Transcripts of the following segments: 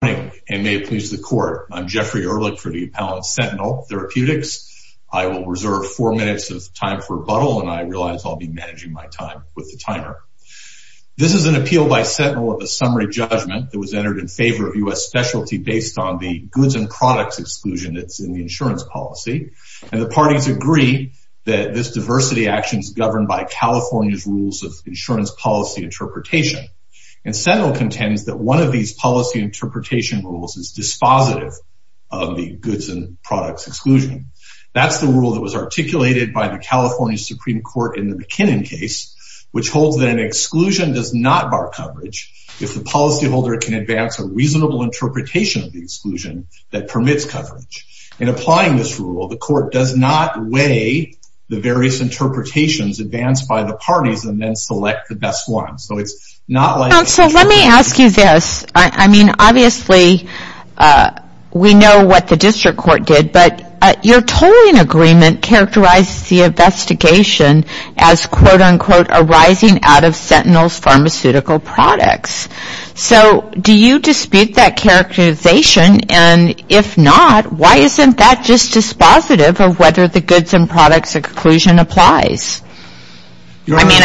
Good morning, and may it please the Court. I'm Jeffrey Ehrlich for the Appellate Sentinel Therapeutics. I will reserve four minutes of time for rebuttal, and I realize I'll be managing my time with the timer. This is an appeal by Sentinel of a summary judgment that was entered in favor of U.S. Specialty based on the goods and products exclusion that's in the insurance policy, and the parties agree that this diversity action is governed by California's rules of insurance policy interpretation. And Sentinel contends that one of these policy rules is dispositive of the goods and products exclusion. That's the rule that was articulated by the California Supreme Court in the McKinnon case, which holds that an exclusion does not bar coverage if the policyholder can advance a reasonable interpretation of the exclusion that permits coverage. In applying this rule, the Court does not weigh the various interpretations advanced by the parties and then select the best one. So it's not like... Counsel, let me ask you this. I mean, obviously, we know what the district court did, but your tolling agreement characterizes the investigation as, quote, unquote, arising out of Sentinel's pharmaceutical products. So do you dispute that characterization, and if not, why isn't that just dispositive of whether the goods and products exclusion applies? I mean, I mean,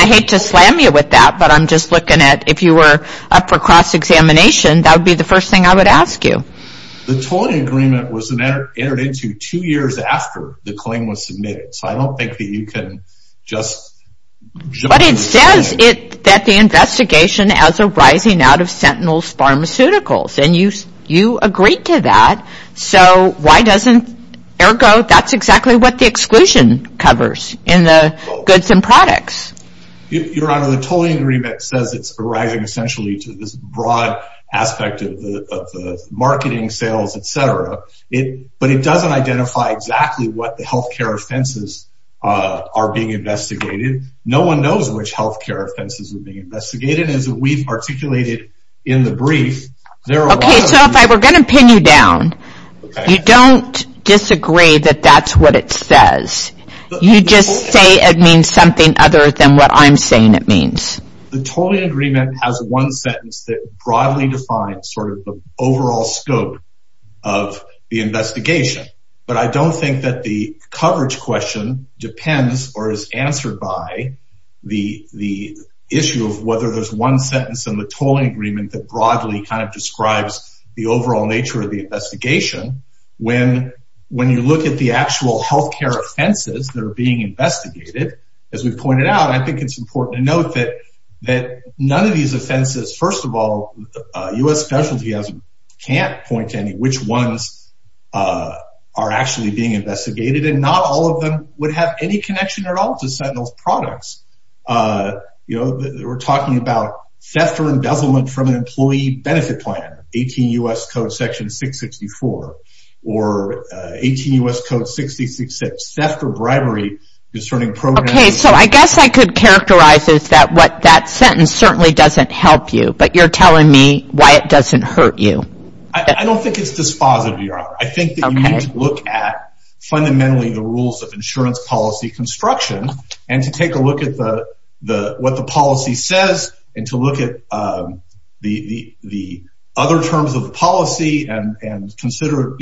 if you're up for cross-examination, that would be the first thing I would ask you. The tolling agreement was entered into two years after the claim was submitted, so I don't think that you can just... But it says that the investigation as arising out of Sentinel's pharmaceuticals, and you agreed to that, so why doesn't... Ergo, that's exactly what the exclusion covers in the goods and products. Your Honor, the tolling agreement says it's arising, essentially, to this broad aspect of the marketing, sales, et cetera, but it doesn't identify exactly what the healthcare offenses are being investigated. No one knows which healthcare offenses are being investigated, as we've articulated in the brief. There are a lot of... Okay, so if I were going to pin you down, you don't disagree that that's what it says. You just say it means something other than what I'm saying it means. The tolling agreement has one sentence that broadly defines sort of the overall scope of the investigation, but I don't think that the coverage question depends or is answered by the issue of whether there's one sentence in the tolling agreement that broadly kind of describes the overall nature of the investigation. When you look at the actual healthcare offenses that are being investigated, as we've pointed out, I think it's important to note that none of these offenses... First of all, U.S. specialty can't point to any which ones are actually being investigated, and not all of them would have any connection at all to Sentinel's products. We're talking about theft or embezzlement from an employee benefit plan, 18 U.S. Code Section 664, or 18 U.S. Code 66, theft or bribery discerning programming... Okay, so I guess I could characterize as that what that sentence certainly doesn't help you, but you're telling me why it doesn't hurt you. I don't think it's dispositive, Your Honor. I think that you need to look at fundamentally the rules of insurance policy construction and to take a look at what the policy says and to look at the other terms of policy and consider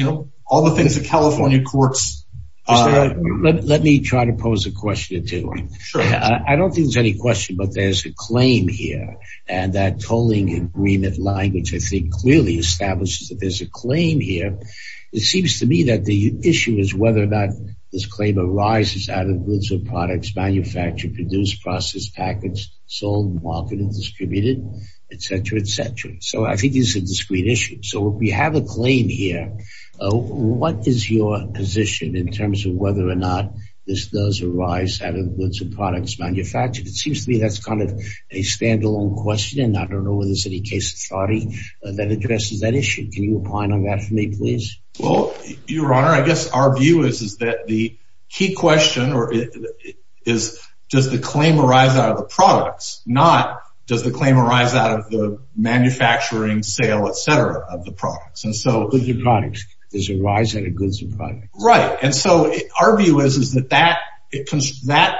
all the things that California courts... Let me try to pose a question or two. I don't think there's any question, but there's a claim here, and that tolling agreement language, I think, clearly establishes that there's a claim here. It seems to me that the issue is whether or not this claim arises out of goods or products manufactured, produced, processed, packaged, sold, marketed, distributed, et cetera, et cetera. So I think it's a discrete issue. So we have a claim here. What is your position in terms of whether or not this does arise out of goods or products manufactured? It seems to me that's kind of a standalone question, and I don't know whether there's any case authority that addresses that issue. Can you opine on that for me, please? Well, Your Honor, I guess our view is that the key question is does the claim arise out of the products, not does the claim arise out of the manufacturing, sale, et cetera, of the products. Of the products. Does it arise out of goods or products? Right. And so our view is that that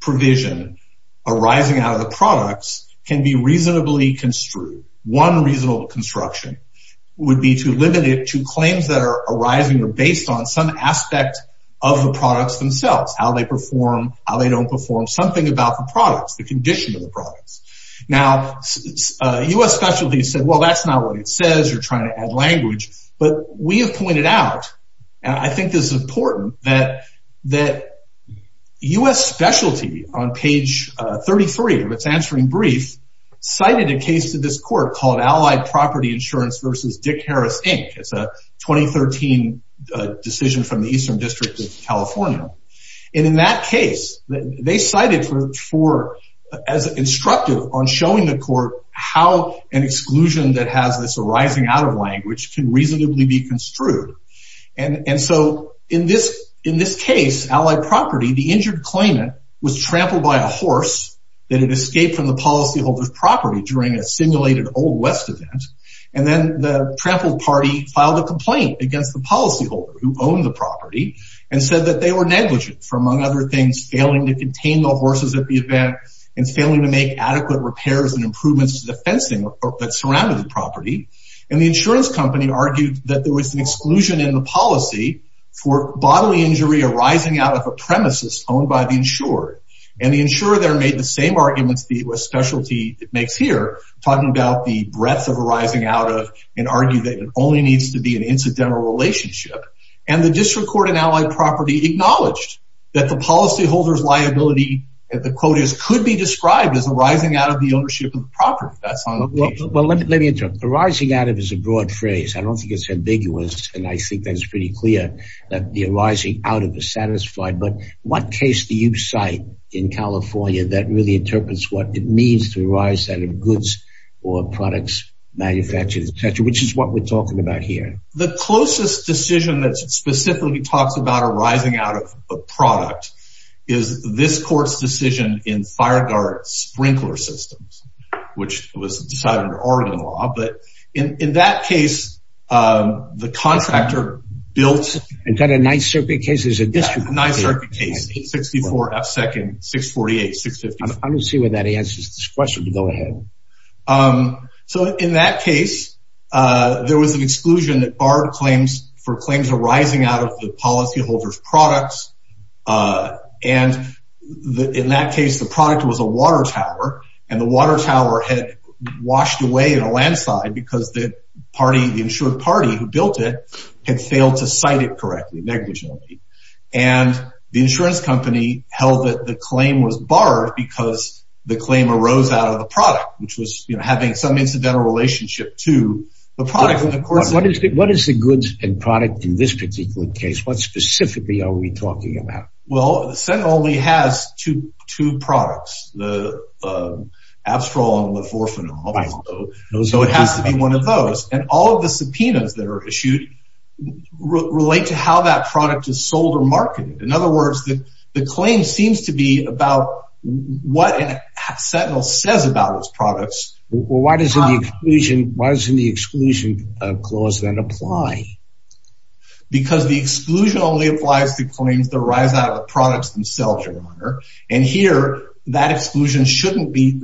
provision arising out of the products can be reasonably construed. One reasonable construction would be to limit it to claims that are arising or based on some aspect of the products themselves, how they perform, how they don't perform, something about the products, the condition of the products. Now, U.S. Specialty said, well, that's not what it says. You're trying to add language. But we have pointed out, and I think this is important, that U.S. Specialty on page 33 of its answering brief cited a case to this court called Allied Property Insurance v. Dick Harris, Inc. It's a 2013 decision from the Eastern District of California. And in that case, they cited for as instructive on showing the court how an exclusion that has this arising out of language can reasonably be construed. And so in this case, Allied Property, the injured claimant was trampled by a horse that had escaped from the policyholder's property during a simulated Old West event. And then the trampled party filed a complaint against the policyholder who owned the property and said that they were negligent for, among other things, failing to contain the horses at the event and failing to make adequate repairs and improvements to the fencing that surrounded the property. And the insurance company argued that there was an exclusion in the policy for bodily injury arising out of a premises owned by the insured. And the insurer there made the same arguments the U.S. Specialty makes here, talking about the breadth of arising out of and argued that it only needs to be an incidental relationship. And the district court in Allied Property acknowledged that the policyholder's liability, the quote is, could be described as arising out of the ownership of the property. That's on the page. Well, let me interrupt. Arising out of is a broad phrase. I don't think it's ambiguous. And I think that's pretty clear that the arising out of is satisfied. But what case do you cite in California that really interprets what it means to arise out of goods or products, manufactured, et cetera, which is what we're talking about here? The closest decision that specifically talks about arising out of a product is this court's decision in Fireguard Sprinkler Systems, which was decided under Oregon law. But in that case, the contractor built... And got a nice circuit case as a district court case. A nice circuit case, 864F2nd, 648, 654. I'm going to see whether that answers this question. Go ahead. So in that case, there was an exclusion that barred claims for claims arising out of the policyholder's products. And in that case, the product was a water tower. And the water tower, the insured party who built it, had failed to cite it correctly, negligently. And the insurance company held that the claim was barred because the claim arose out of the product, which was having some incidental relationship to the product. What is the goods and product in this particular case? What specifically are we talking about? Well, the Senate only has two products, the Abstrol and Leforfanol. So it has to be one of those. And all of the subpoenas that are issued relate to how that product is sold or marketed. In other words, the claim seems to be about what an abstrol says about those products. Well, why doesn't the exclusion clause then apply? Because the exclusion only applies to claims that arise out of the products themselves or the owner. And here, that exclusion shouldn't be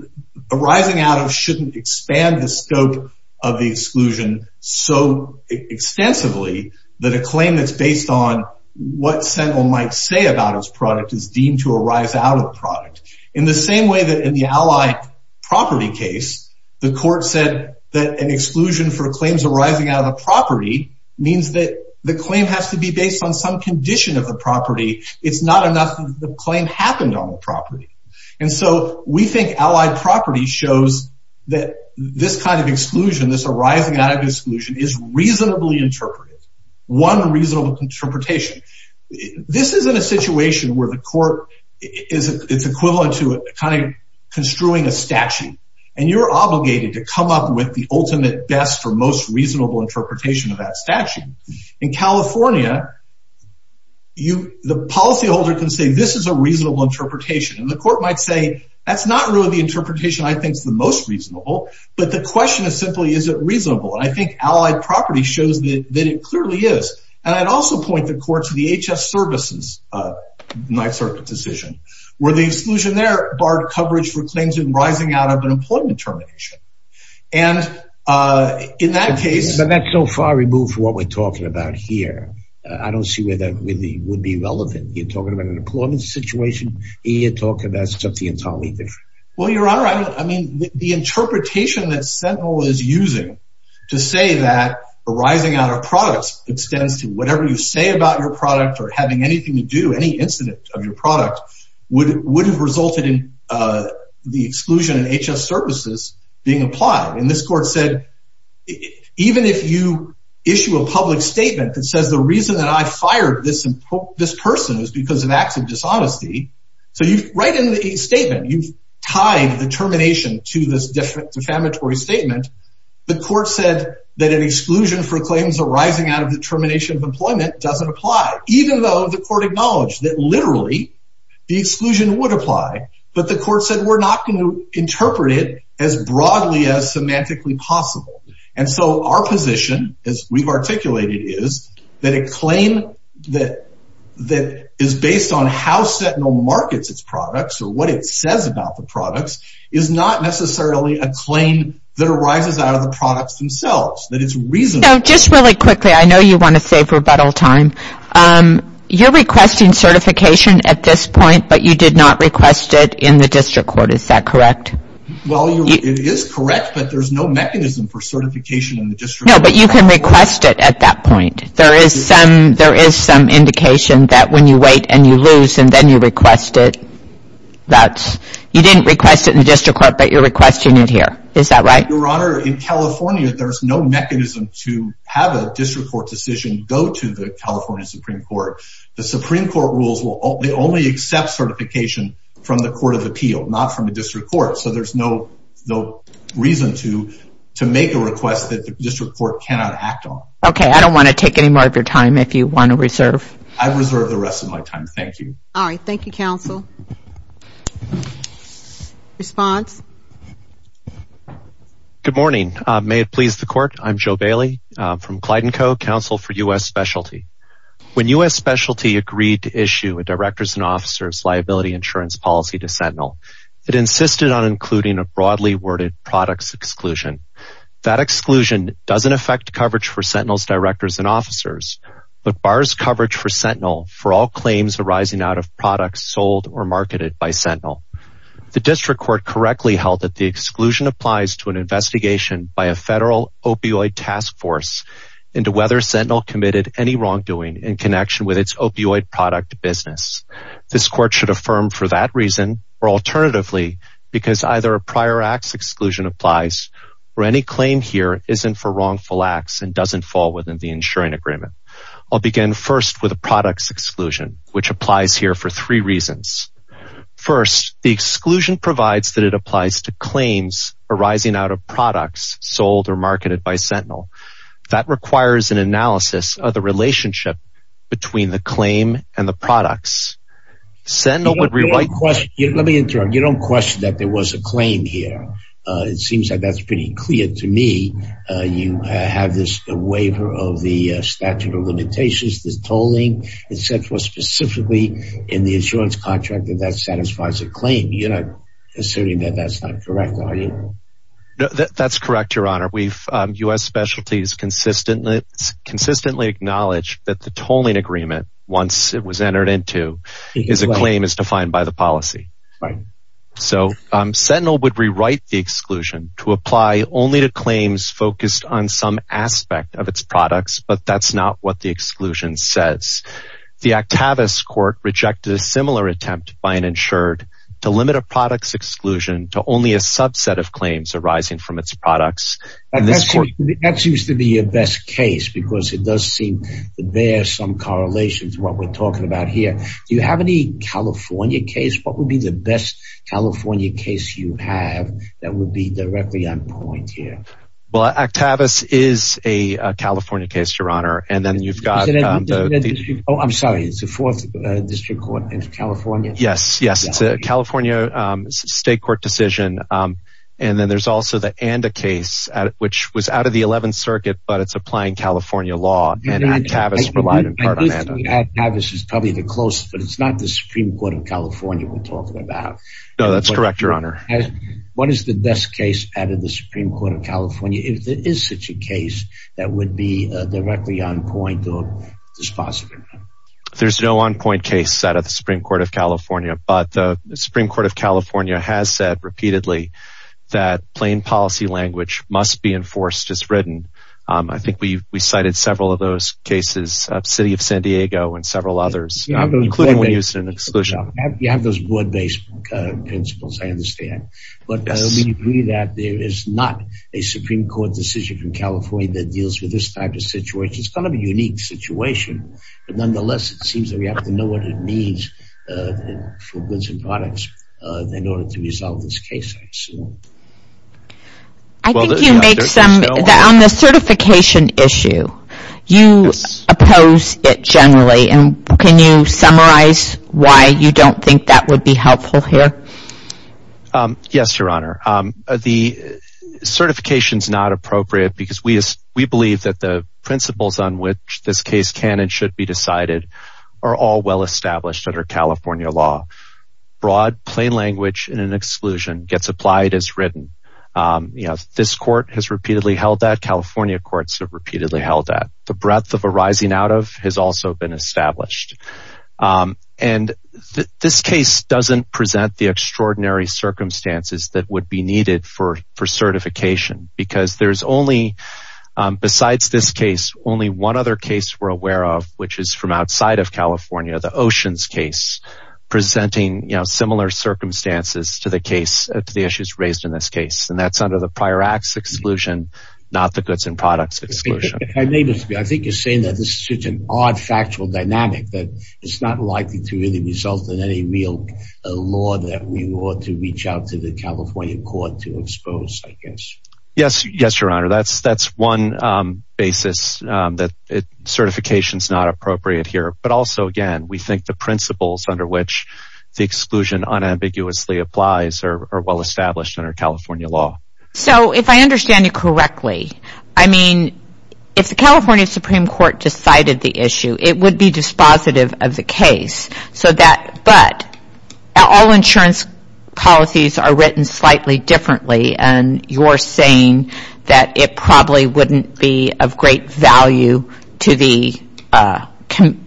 arising out of, shouldn't expand the scope of the exclusion so extensively that a claim that's based on what Sentinel might say about its product is deemed to arise out of the product. In the same way that in the Allied Property case, the court said that an exclusion for claims arising out of the property means that the claim has to be based on some condition of the property. It's not enough that the claim happened on the property. And so we think Allied Property shows that this kind of exclusion, this arising out of exclusion is reasonably interpreted. One reasonable interpretation. This isn't a situation where the court is equivalent to kind of construing a statute. And you're obligated to come up with the ultimate best or most reasonable interpretation of that statute. In California, the policyholder can say, this is a reasonable interpretation. And the court might say, that's not really the interpretation I think is the most reasonable. But the question is simply, is it reasonable? And I think Allied Property shows that it clearly is. And I'd also point the court to the HS Services, Ninth Circuit decision, where the exclusion there barred coverage for claims arising out of an employment termination. And in that case... But that's so far removed from what we're talking about here. I don't see where that would be relevant. You're talking about an employment situation. You're talking about something entirely different. Well, Your Honor, I mean, the interpretation that Sentinel is using to say that arising out of products extends to whatever you say about your product or having anything to do, any incident of your product, would have resulted in the exclusion in HS Services being applied. And this court said, even if you issue a public statement that says the reason that I fired this person is because of acts of dishonesty. So you write in the statement, you've tied the termination to this different defamatory statement. The court said that an exclusion for claims arising out of the termination of employment doesn't apply, even though the court acknowledged that literally, the exclusion would apply. But the court said, we're not going to interpret it as broadly as semantically possible. And so our position, as we've articulated it is, that a claim that is based on how Sentinel markets its products, or what it says about the products, is not necessarily a claim that arises out of the products themselves. That it's reasonable. Just really quickly, I know you want to save rebuttal time. You're requesting certification at this point, but you did not request it in the district court. Is that correct? Well, it is correct, but there's no mechanism for certification in the district court. No, but you can request it at that point. There is some indication that when you wait and you lose, and then you request it. You didn't request it in the district court, but you're requesting it here. Is that right? Your Honor, in California, there's no mechanism to have a district court decision go to the California Supreme Court. The Supreme Court rules, they only accept certification from the Court of Appeal, not from the district court. So there's no reason to make a request that the district court cannot act on. Okay, I don't want to take any more of your time if you want to reserve. I reserve the rest of my time. Thank you. All right. Thank you, counsel. Response? Good morning. May it please the Court? I'm Joe Bailey from Clyde & Co., Counsel for U.S. Specialty. When U.S. Specialty agreed to issue a Director's and Officer's Liability Insurance Policy to Sentinel, it insisted on including a broadly worded products exclusion. That exclusion doesn't affect coverage for Sentinel's directors and officers, but bars coverage for Sentinel for all claims arising out of products sold or marketed by Sentinel. The district court correctly held that the exclusion applies to an investigation by a federal opioid task force into whether Sentinel committed any wrongdoing in connection with its opioid product business. This court should affirm for that reason, or alternatively, because either a prior acts exclusion applies, or any claim here isn't for wrongful acts and doesn't fall within the insuring agreement. I'll begin first with a products exclusion, which applies here for three reasons. First, the exclusion provides that it applies to claims arising out of products sold or marketed by Sentinel. That requires an analysis of the relationship between the claim and the products. Sentinel would rewrite... Let me interrupt. You don't question that there was a claim here. It seems like that's pretty clear to me. You have this waiver of the statute of limitations, the tolling, et cetera, specifically in the insurance contract that that satisfies a claim. You're not asserting that that's not correct, are you? That's correct, Your Honor. U.S. Specialties consistently acknowledge that the tolling agreement, once it was entered into, is a claim as defined by the policy. Right. Sentinel would rewrite the exclusion to apply only to claims focused on some aspect of its products, but that's not what the exclusion says. The Octavius Court rejected a similar attempt by an insured to limit a products exclusion to only a subset of claims arising from its products. That seems to be the best case because it does bear some correlation to what we're talking about here. Do you have any California case? What would be the best California case you have that would be directly on point here? Well, Octavius is a California case, Your Honor. And then you've got... Oh, I'm sorry. It's a fourth district court in California? Yes. Yes. It's a California state court decision. And then there's also the Anda case, which was out of the Eleventh Circuit, but it's applying California law. And Octavius relied in part on Anda. Octavius is probably the closest, but it's not the Supreme Court of California we're talking about. No, that's correct, Your Honor. What is the best case out of the Supreme Court of California? If there is such a case that would be directly on point or dispositive? There's no on point case set at the Supreme Court of California, but the Supreme Court of California has said repeatedly that plain policy language must be enforced as written. I think we cited several of those cases, City of San Diego and several others, including when used in exclusion. You have those board-based principles, I understand. But we agree that there is not a Supreme Court decision from California that deals with this type of situation. It's kind of a unique situation, but nonetheless, it seems that we have to know what it means for goods and products in order to resolve this case, I assume. On the certification issue, you oppose it generally. Can you summarize why you don't think that would be helpful here? Yes, Your Honor. The certification is not appropriate because we believe that the principles on which this case can and should be decided are all well-established under California law. Broad, plain language in an exclusion gets applied as written. This court has repeatedly held that. California courts have repeatedly held that. The breadth of arising out of has also been established. This case doesn't present the extraordinary circumstances that would be needed for certification because there's only, besides this case, only one other case we're aware of, which is from outside of California, the Oceans case, presenting similar circumstances to the issues raised in this case. And that's under the prior acts exclusion, not the goods and products exclusion. I think you're saying that this is such an odd factual dynamic that it's not likely to really result in any real law that we ought to reach out to the California court to expose, I guess. Yes, Your Honor. That's one basis that certification is not appropriate here. But also, again, we think the principles under which the exclusion unambiguously applies are well established under California law. So, if I understand you correctly, I mean, if the California Supreme Court decided the issue, it would be dispositive of the case. But all insurance policies are written slightly differently. And you're saying that it probably wouldn't be of great value to the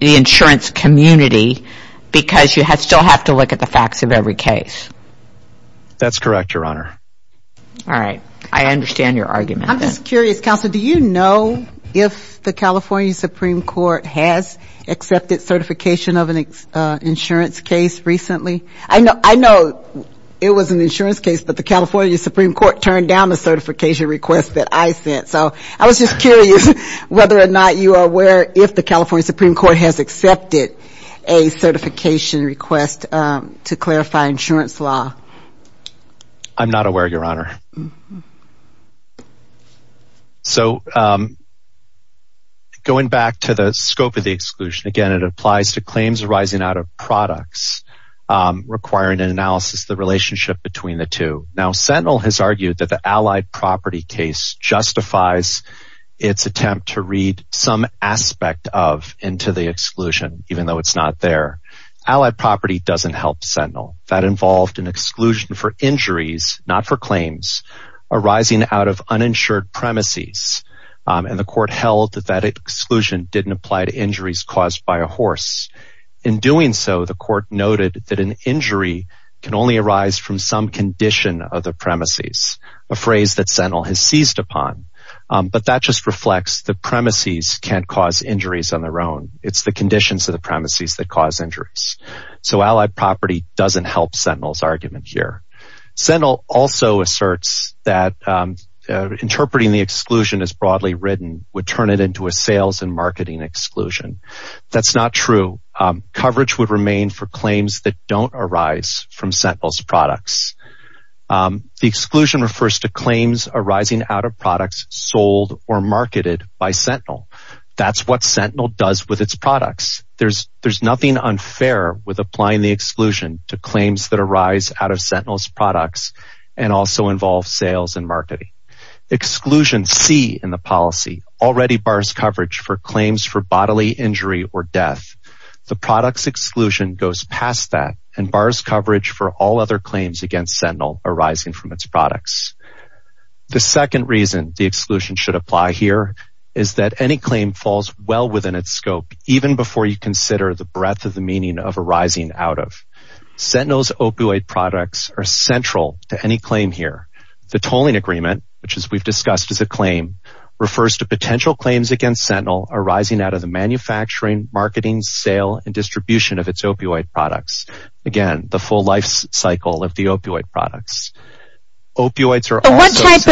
insurance community because you still have to look at the facts of every case. That's correct, Your Honor. All right. I understand your argument. I'm just curious, Counselor, do you know if the California Supreme Court has accepted certification of an insurance case? But the California Supreme Court turned down the certification request that I sent. So, I was just curious whether or not you are aware if the California Supreme Court has accepted a certification request to clarify insurance law. I'm not aware, Your Honor. So, going back to the scope of the exclusion, again, it applies to claims arising out of the relationship between the two. Now, Sentinel has argued that the Allied Property case justifies its attempt to read some aspect of into the exclusion, even though it's not there. Allied Property doesn't help Sentinel. That involved an exclusion for injuries, not for claims, arising out of uninsured premises. And the court held that that exclusion didn't apply to injuries caused by a horse. In doing so, the court noted that an injury can only arise from some condition of the premises, a phrase that Sentinel has seized upon. But that just reflects the premises can't cause injuries on their own. It's the conditions of the premises that cause injuries. So, Allied Property doesn't help Sentinel's argument here. Sentinel also asserts that interpreting the exclusion as broadly written would turn it into a sales and marketing exclusion. That's not true. Coverage would remain for claims that don't arise from Sentinel's products. The exclusion refers to claims arising out of products sold or marketed by Sentinel. That's what Sentinel does with its products. There's nothing unfair with applying the exclusion to claims that arise out of Sentinel's products and also involve sales and marketing. Exclusion C in the policy already bars coverage for claims for bodily injury or death. The product's exclusion goes past that and bars coverage for all other claims against Sentinel arising from its products. The second reason the exclusion should apply here is that any claim falls well within its scope, even before you consider the breadth of the meaning of arising out of. Sentinel's opioid products are central to any claim here. The tolling agreement, which we've discussed as a claim, refers to potential claims against Sentinel arising out of the manufacturing, marketing, sale, and distribution of its opioid products. Again, the full life cycle of the opioid products. What type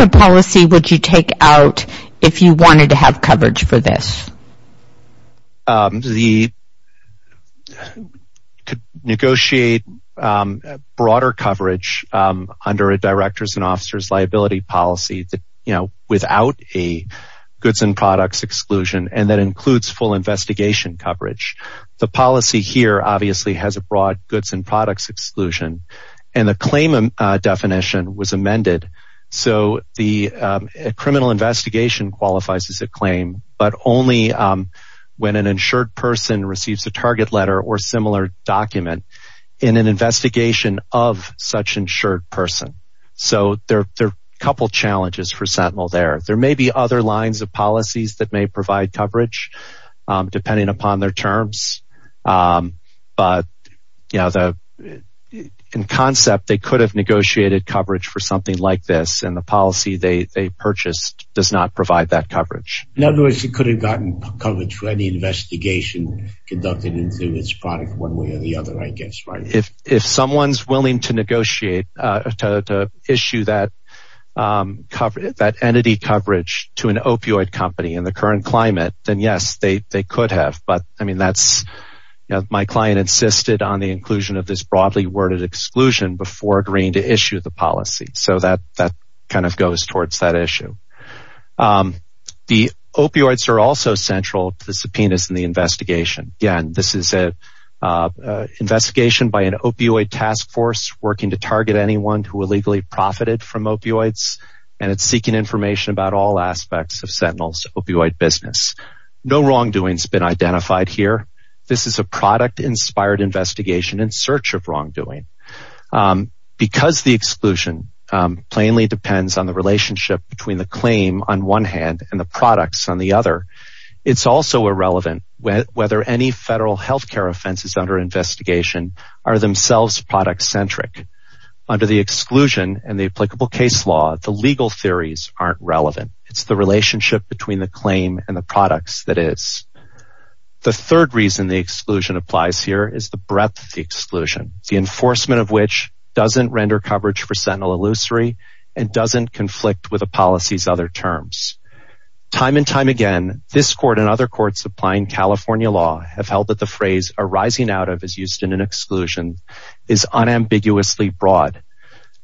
of policy would you take out if you wanted to have coverage for a claim? The claim definition was amended so the criminal investigation qualifies as a claim, but only when an insured person receives a target letter or similar document in an investigation of such an insured person. So there are a couple of challenges for Sentinel there. There may be other lines of policies that may provide coverage depending upon their terms, but in concept they could have negotiated coverage for something like this and the policy they purchased does not provide that coverage. In other words, it could have gotten coverage for an investigation conducted into its product one way or the other, I guess. If someone's willing to negotiate to issue that entity coverage to an opioid company in the current climate, then yes, they could have. My client insisted on the inclusion of this broadly worded exclusion before agreeing to issue the policy. So that kind of goes towards that issue. The opioids are also central to the subpoenas in the investigation. Again, this is a investigation by an opioid task force working to target anyone who illegally profited from opioids and it's seeking information about all aspects of Sentinel's opioid business. No wrongdoing has been identified here. This is a product inspired investigation in search of on one hand and the products on the other. It's also irrelevant whether any federal healthcare offenses under investigation are themselves product centric. Under the exclusion and the applicable case law, the legal theories aren't relevant. It's the relationship between the claim and the products that is. The third reason the exclusion applies here is the breadth of the exclusion, the enforcement of which doesn't render coverage for Sentinel Illusory and doesn't conflict with the policy's other terms. Time and time again, this court and other courts applying California law have held that the phrase arising out of is used in an exclusion is unambiguously broad.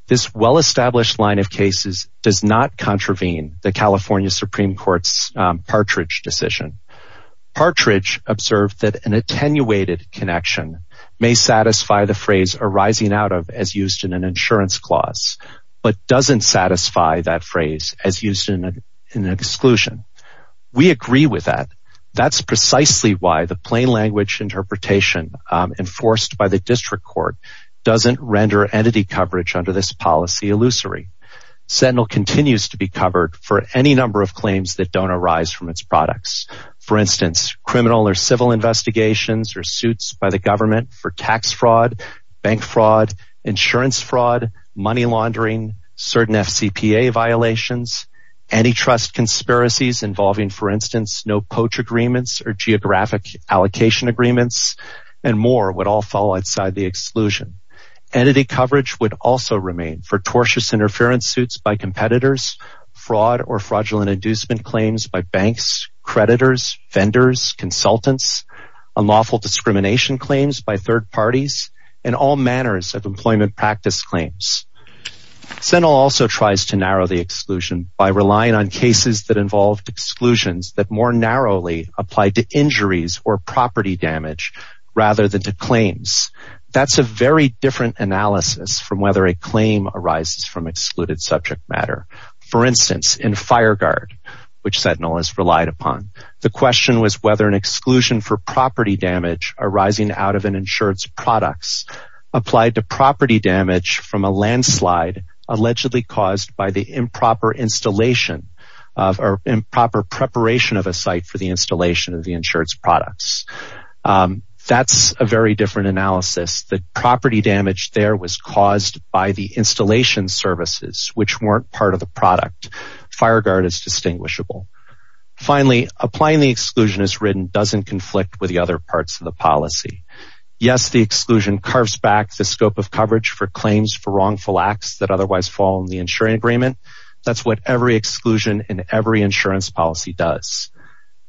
This well established line of cases does not contravene the California Supreme Court's Partridge decision. Partridge observed that an attenuated connection may satisfy the phrase arising out of as used in an insurance clause but doesn't satisfy that phrase as used in an exclusion. We agree with that. That's precisely why the plain language interpretation enforced by the district court doesn't render entity coverage under this policy illusory. Sentinel continues to be covered for any number of claims that don't arise from its products. For instance, criminal or civil investigations or suits by the government for tax fraud, bank fraud, insurance fraud, money laundering, certain FCPA violations, antitrust conspiracies involving, for instance, no poach agreements or geographic allocation agreements, and more would all fall outside the exclusion. Entity coverage would also remain for tortious interference suits by competitors, fraud or fraudulent inducement claims by banks, creditors, vendors, consultants, unlawful discrimination claims by third parties, and all manners of employment practice claims. Sentinel also tries to narrow the exclusion by relying on cases that involved exclusions that more narrowly apply to injuries or property damage rather than to claims. That's a very different analysis from whether a claim arises from excluded subject matter. For instance, in FireGuard, which Sentinel has relied upon, the question was whether an exclusion for property damage arising out of an insured's products applied to property damage from a landslide allegedly caused by the improper installation or improper preparation of a site for the installation of the insured's products. That's a very different analysis. The property damage there was caused by the installation services, which weren't part of the product. FireGuard is distinguishable. Finally, applying the exclusion as written doesn't conflict with the other parts of the policy. Yes, the exclusion carves back the scope of coverage for claims for wrongful acts that otherwise fall in the insuring agreement. That's what every exclusion in every insurance policy does.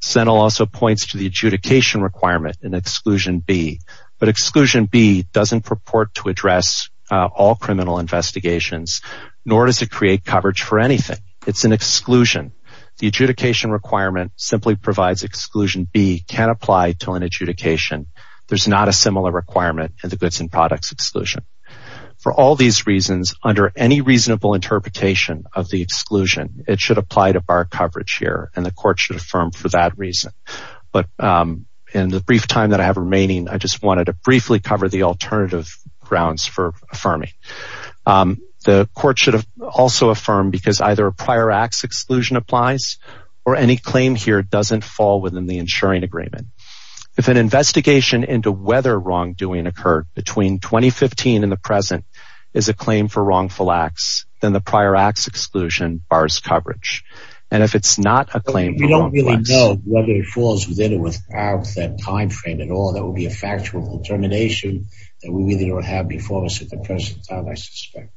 Sentinel also points to the adjudication requirement in Exclusion B, but Exclusion B doesn't purport to address all criminal investigations, nor does it create coverage for anything. It's an exclusion. The adjudication requirement simply provides Exclusion B can't apply to an adjudication. There's not a similar requirement in the goods and products exclusion. For all these reasons, under any reasonable interpretation of the exclusion, it should apply to bar coverage here, and the court should affirm for that reason. But in the brief time that I have remaining, I just wanted to briefly cover the alternative grounds for affirming. The court should have also affirmed because either a prior acts exclusion applies or any claim here doesn't fall within the insuring agreement. If an investigation into whether wrongdoing occurred between 2015 and the present is a claim for wrongful acts, then the prior acts exclusion bars coverage. And if it's not a claim, we don't really know whether it falls within or without that time frame at all. That would be a factual determination that we really don't have before us at the present time, I suspect.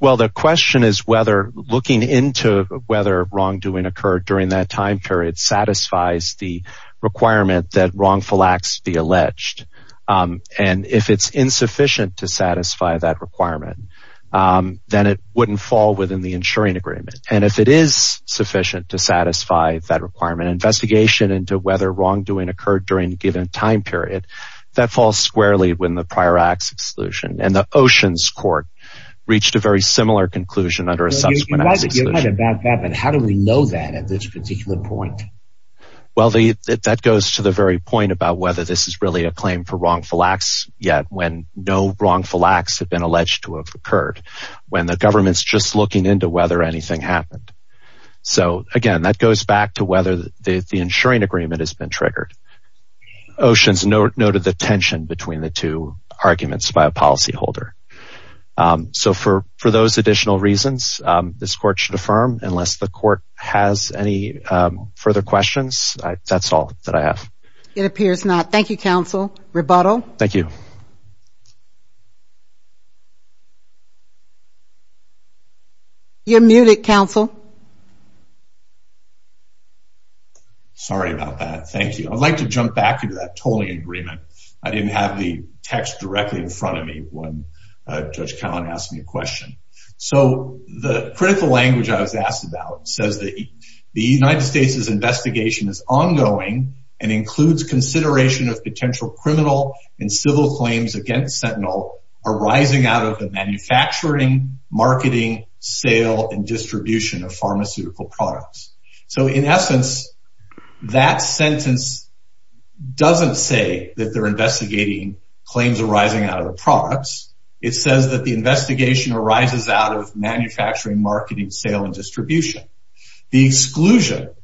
Well, the question is whether looking into whether wrongdoing occurred during that time period satisfies the requirement that wrongful acts be insufficient to satisfy that requirement, then it wouldn't fall within the insuring agreement. And if it is sufficient to satisfy that requirement investigation into whether wrongdoing occurred during a given time period, that falls squarely when the prior acts exclusion and the oceans court reached a very similar conclusion under a subsequent. How do we know that at this particular point? Well, the that goes to the very point about whether this is really a claim for wrongful acts yet when no wrongful acts have been alleged to have occurred when the government's just looking into whether anything happened. So again, that goes back to whether the insuring agreement has been triggered. Oceans noted the tension between the two arguments by a policy holder. So for for those additional reasons, this court should affirm unless the court has any further questions. That's all that I have. It appears not. Thank you, counsel. Rebuttal. Thank you. You're muted, counsel. Sorry about that. Thank you. I'd like to jump back into that tolling agreement. I didn't have the text directly in front of me when Judge Callen asked me a question. So the critical language I was asked about says that the United States's investigation is ongoing and includes consideration of potential criminal and civil claims against Sentinel arising out of the manufacturing, marketing, sale and distribution of pharmaceutical products. So in essence, that sentence doesn't say that they're investigating claims arising out of the products. It says that the investigation arises out of manufacturing, marketing, sale and distribution. The exclusion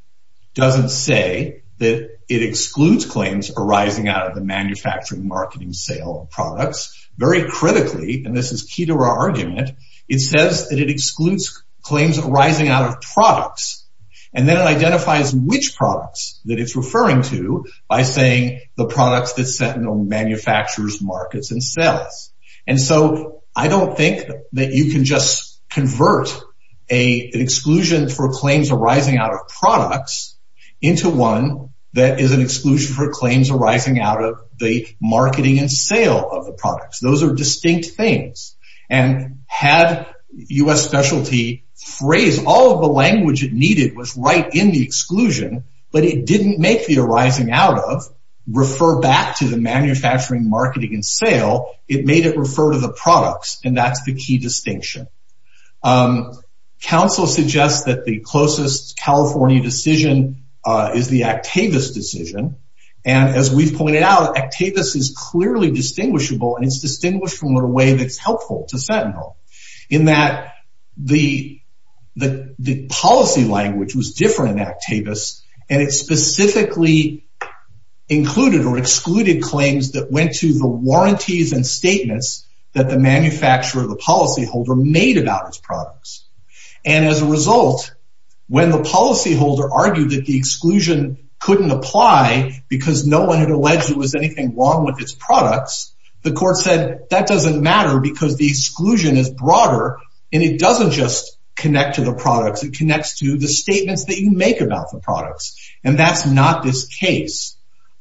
doesn't say that it excludes claims arising out of the manufacturing, marketing, sale of products. Very critically, and this is key to our argument, it says that it excludes claims arising out of products and then identifies which products that it's referring to by saying the products that Sentinel manufactures, markets and sells. And so I don't think that you can just convert an exclusion for claims arising out of products into one that is an exclusion for claims arising out of the marketing and sale of the products. Those are distinct things. And had U.S. Specialty phrased all of the language it needed was right in the exclusion, but it didn't make the arising out of, refer back to the manufacturing, marketing and sale. It made it refer to the products. And that's the key distinction. Counsel suggests that the closest California decision is the Actavis decision. And as we've pointed out, Actavis is clearly distinguishable and it's distinguished from what a way that's the, the, the policy language was different in Actavis and it specifically included or excluded claims that went to the warranties and statements that the manufacturer, the policy holder made about its products. And as a result, when the policy holder argued that the exclusion couldn't apply because no one had alleged it was anything wrong with its products, the court said that doesn't matter because the exclusion is broader and it doesn't just connect to the products, it connects to the statements that you make about the products. And that's not this case.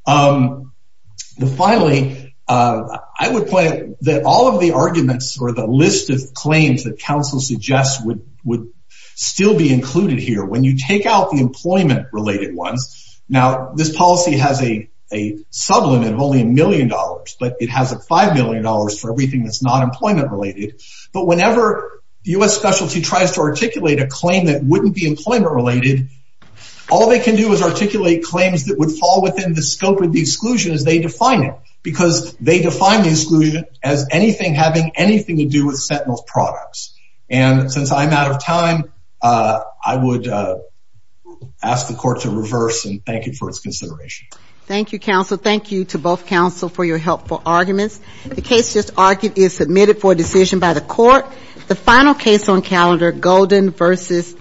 Finally, I would point out that all of the arguments or the list of claims that counsel suggests would, would still be included here when you take out the employment related ones. Now, this policy has a, a sublimit of only a million dollars, but it has a five million dollars for everything that's not employment related. But whenever the U.S. specialty tries to articulate a claim that wouldn't be employment related, all they can do is articulate claims that would fall within the scope of the exclusion as they define it, because they define the exclusion as anything having anything to do with Sentinel's products. And since I'm out of time, I would ask the court to reverse and thank you for its consideration. Thank you, counsel. Thank you to both counsel for your helpful arguments. The case just argued is submitted for a decision by the court. The final case on calendar, Golden versus,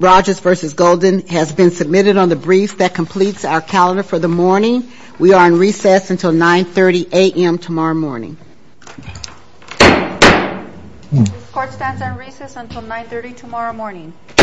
Rogers versus Golden, has been submitted on the brief that completes our calendar for the morning. We are on recess until 9.30 a.m. tomorrow morning. This court stands on recess until 9.30 tomorrow morning.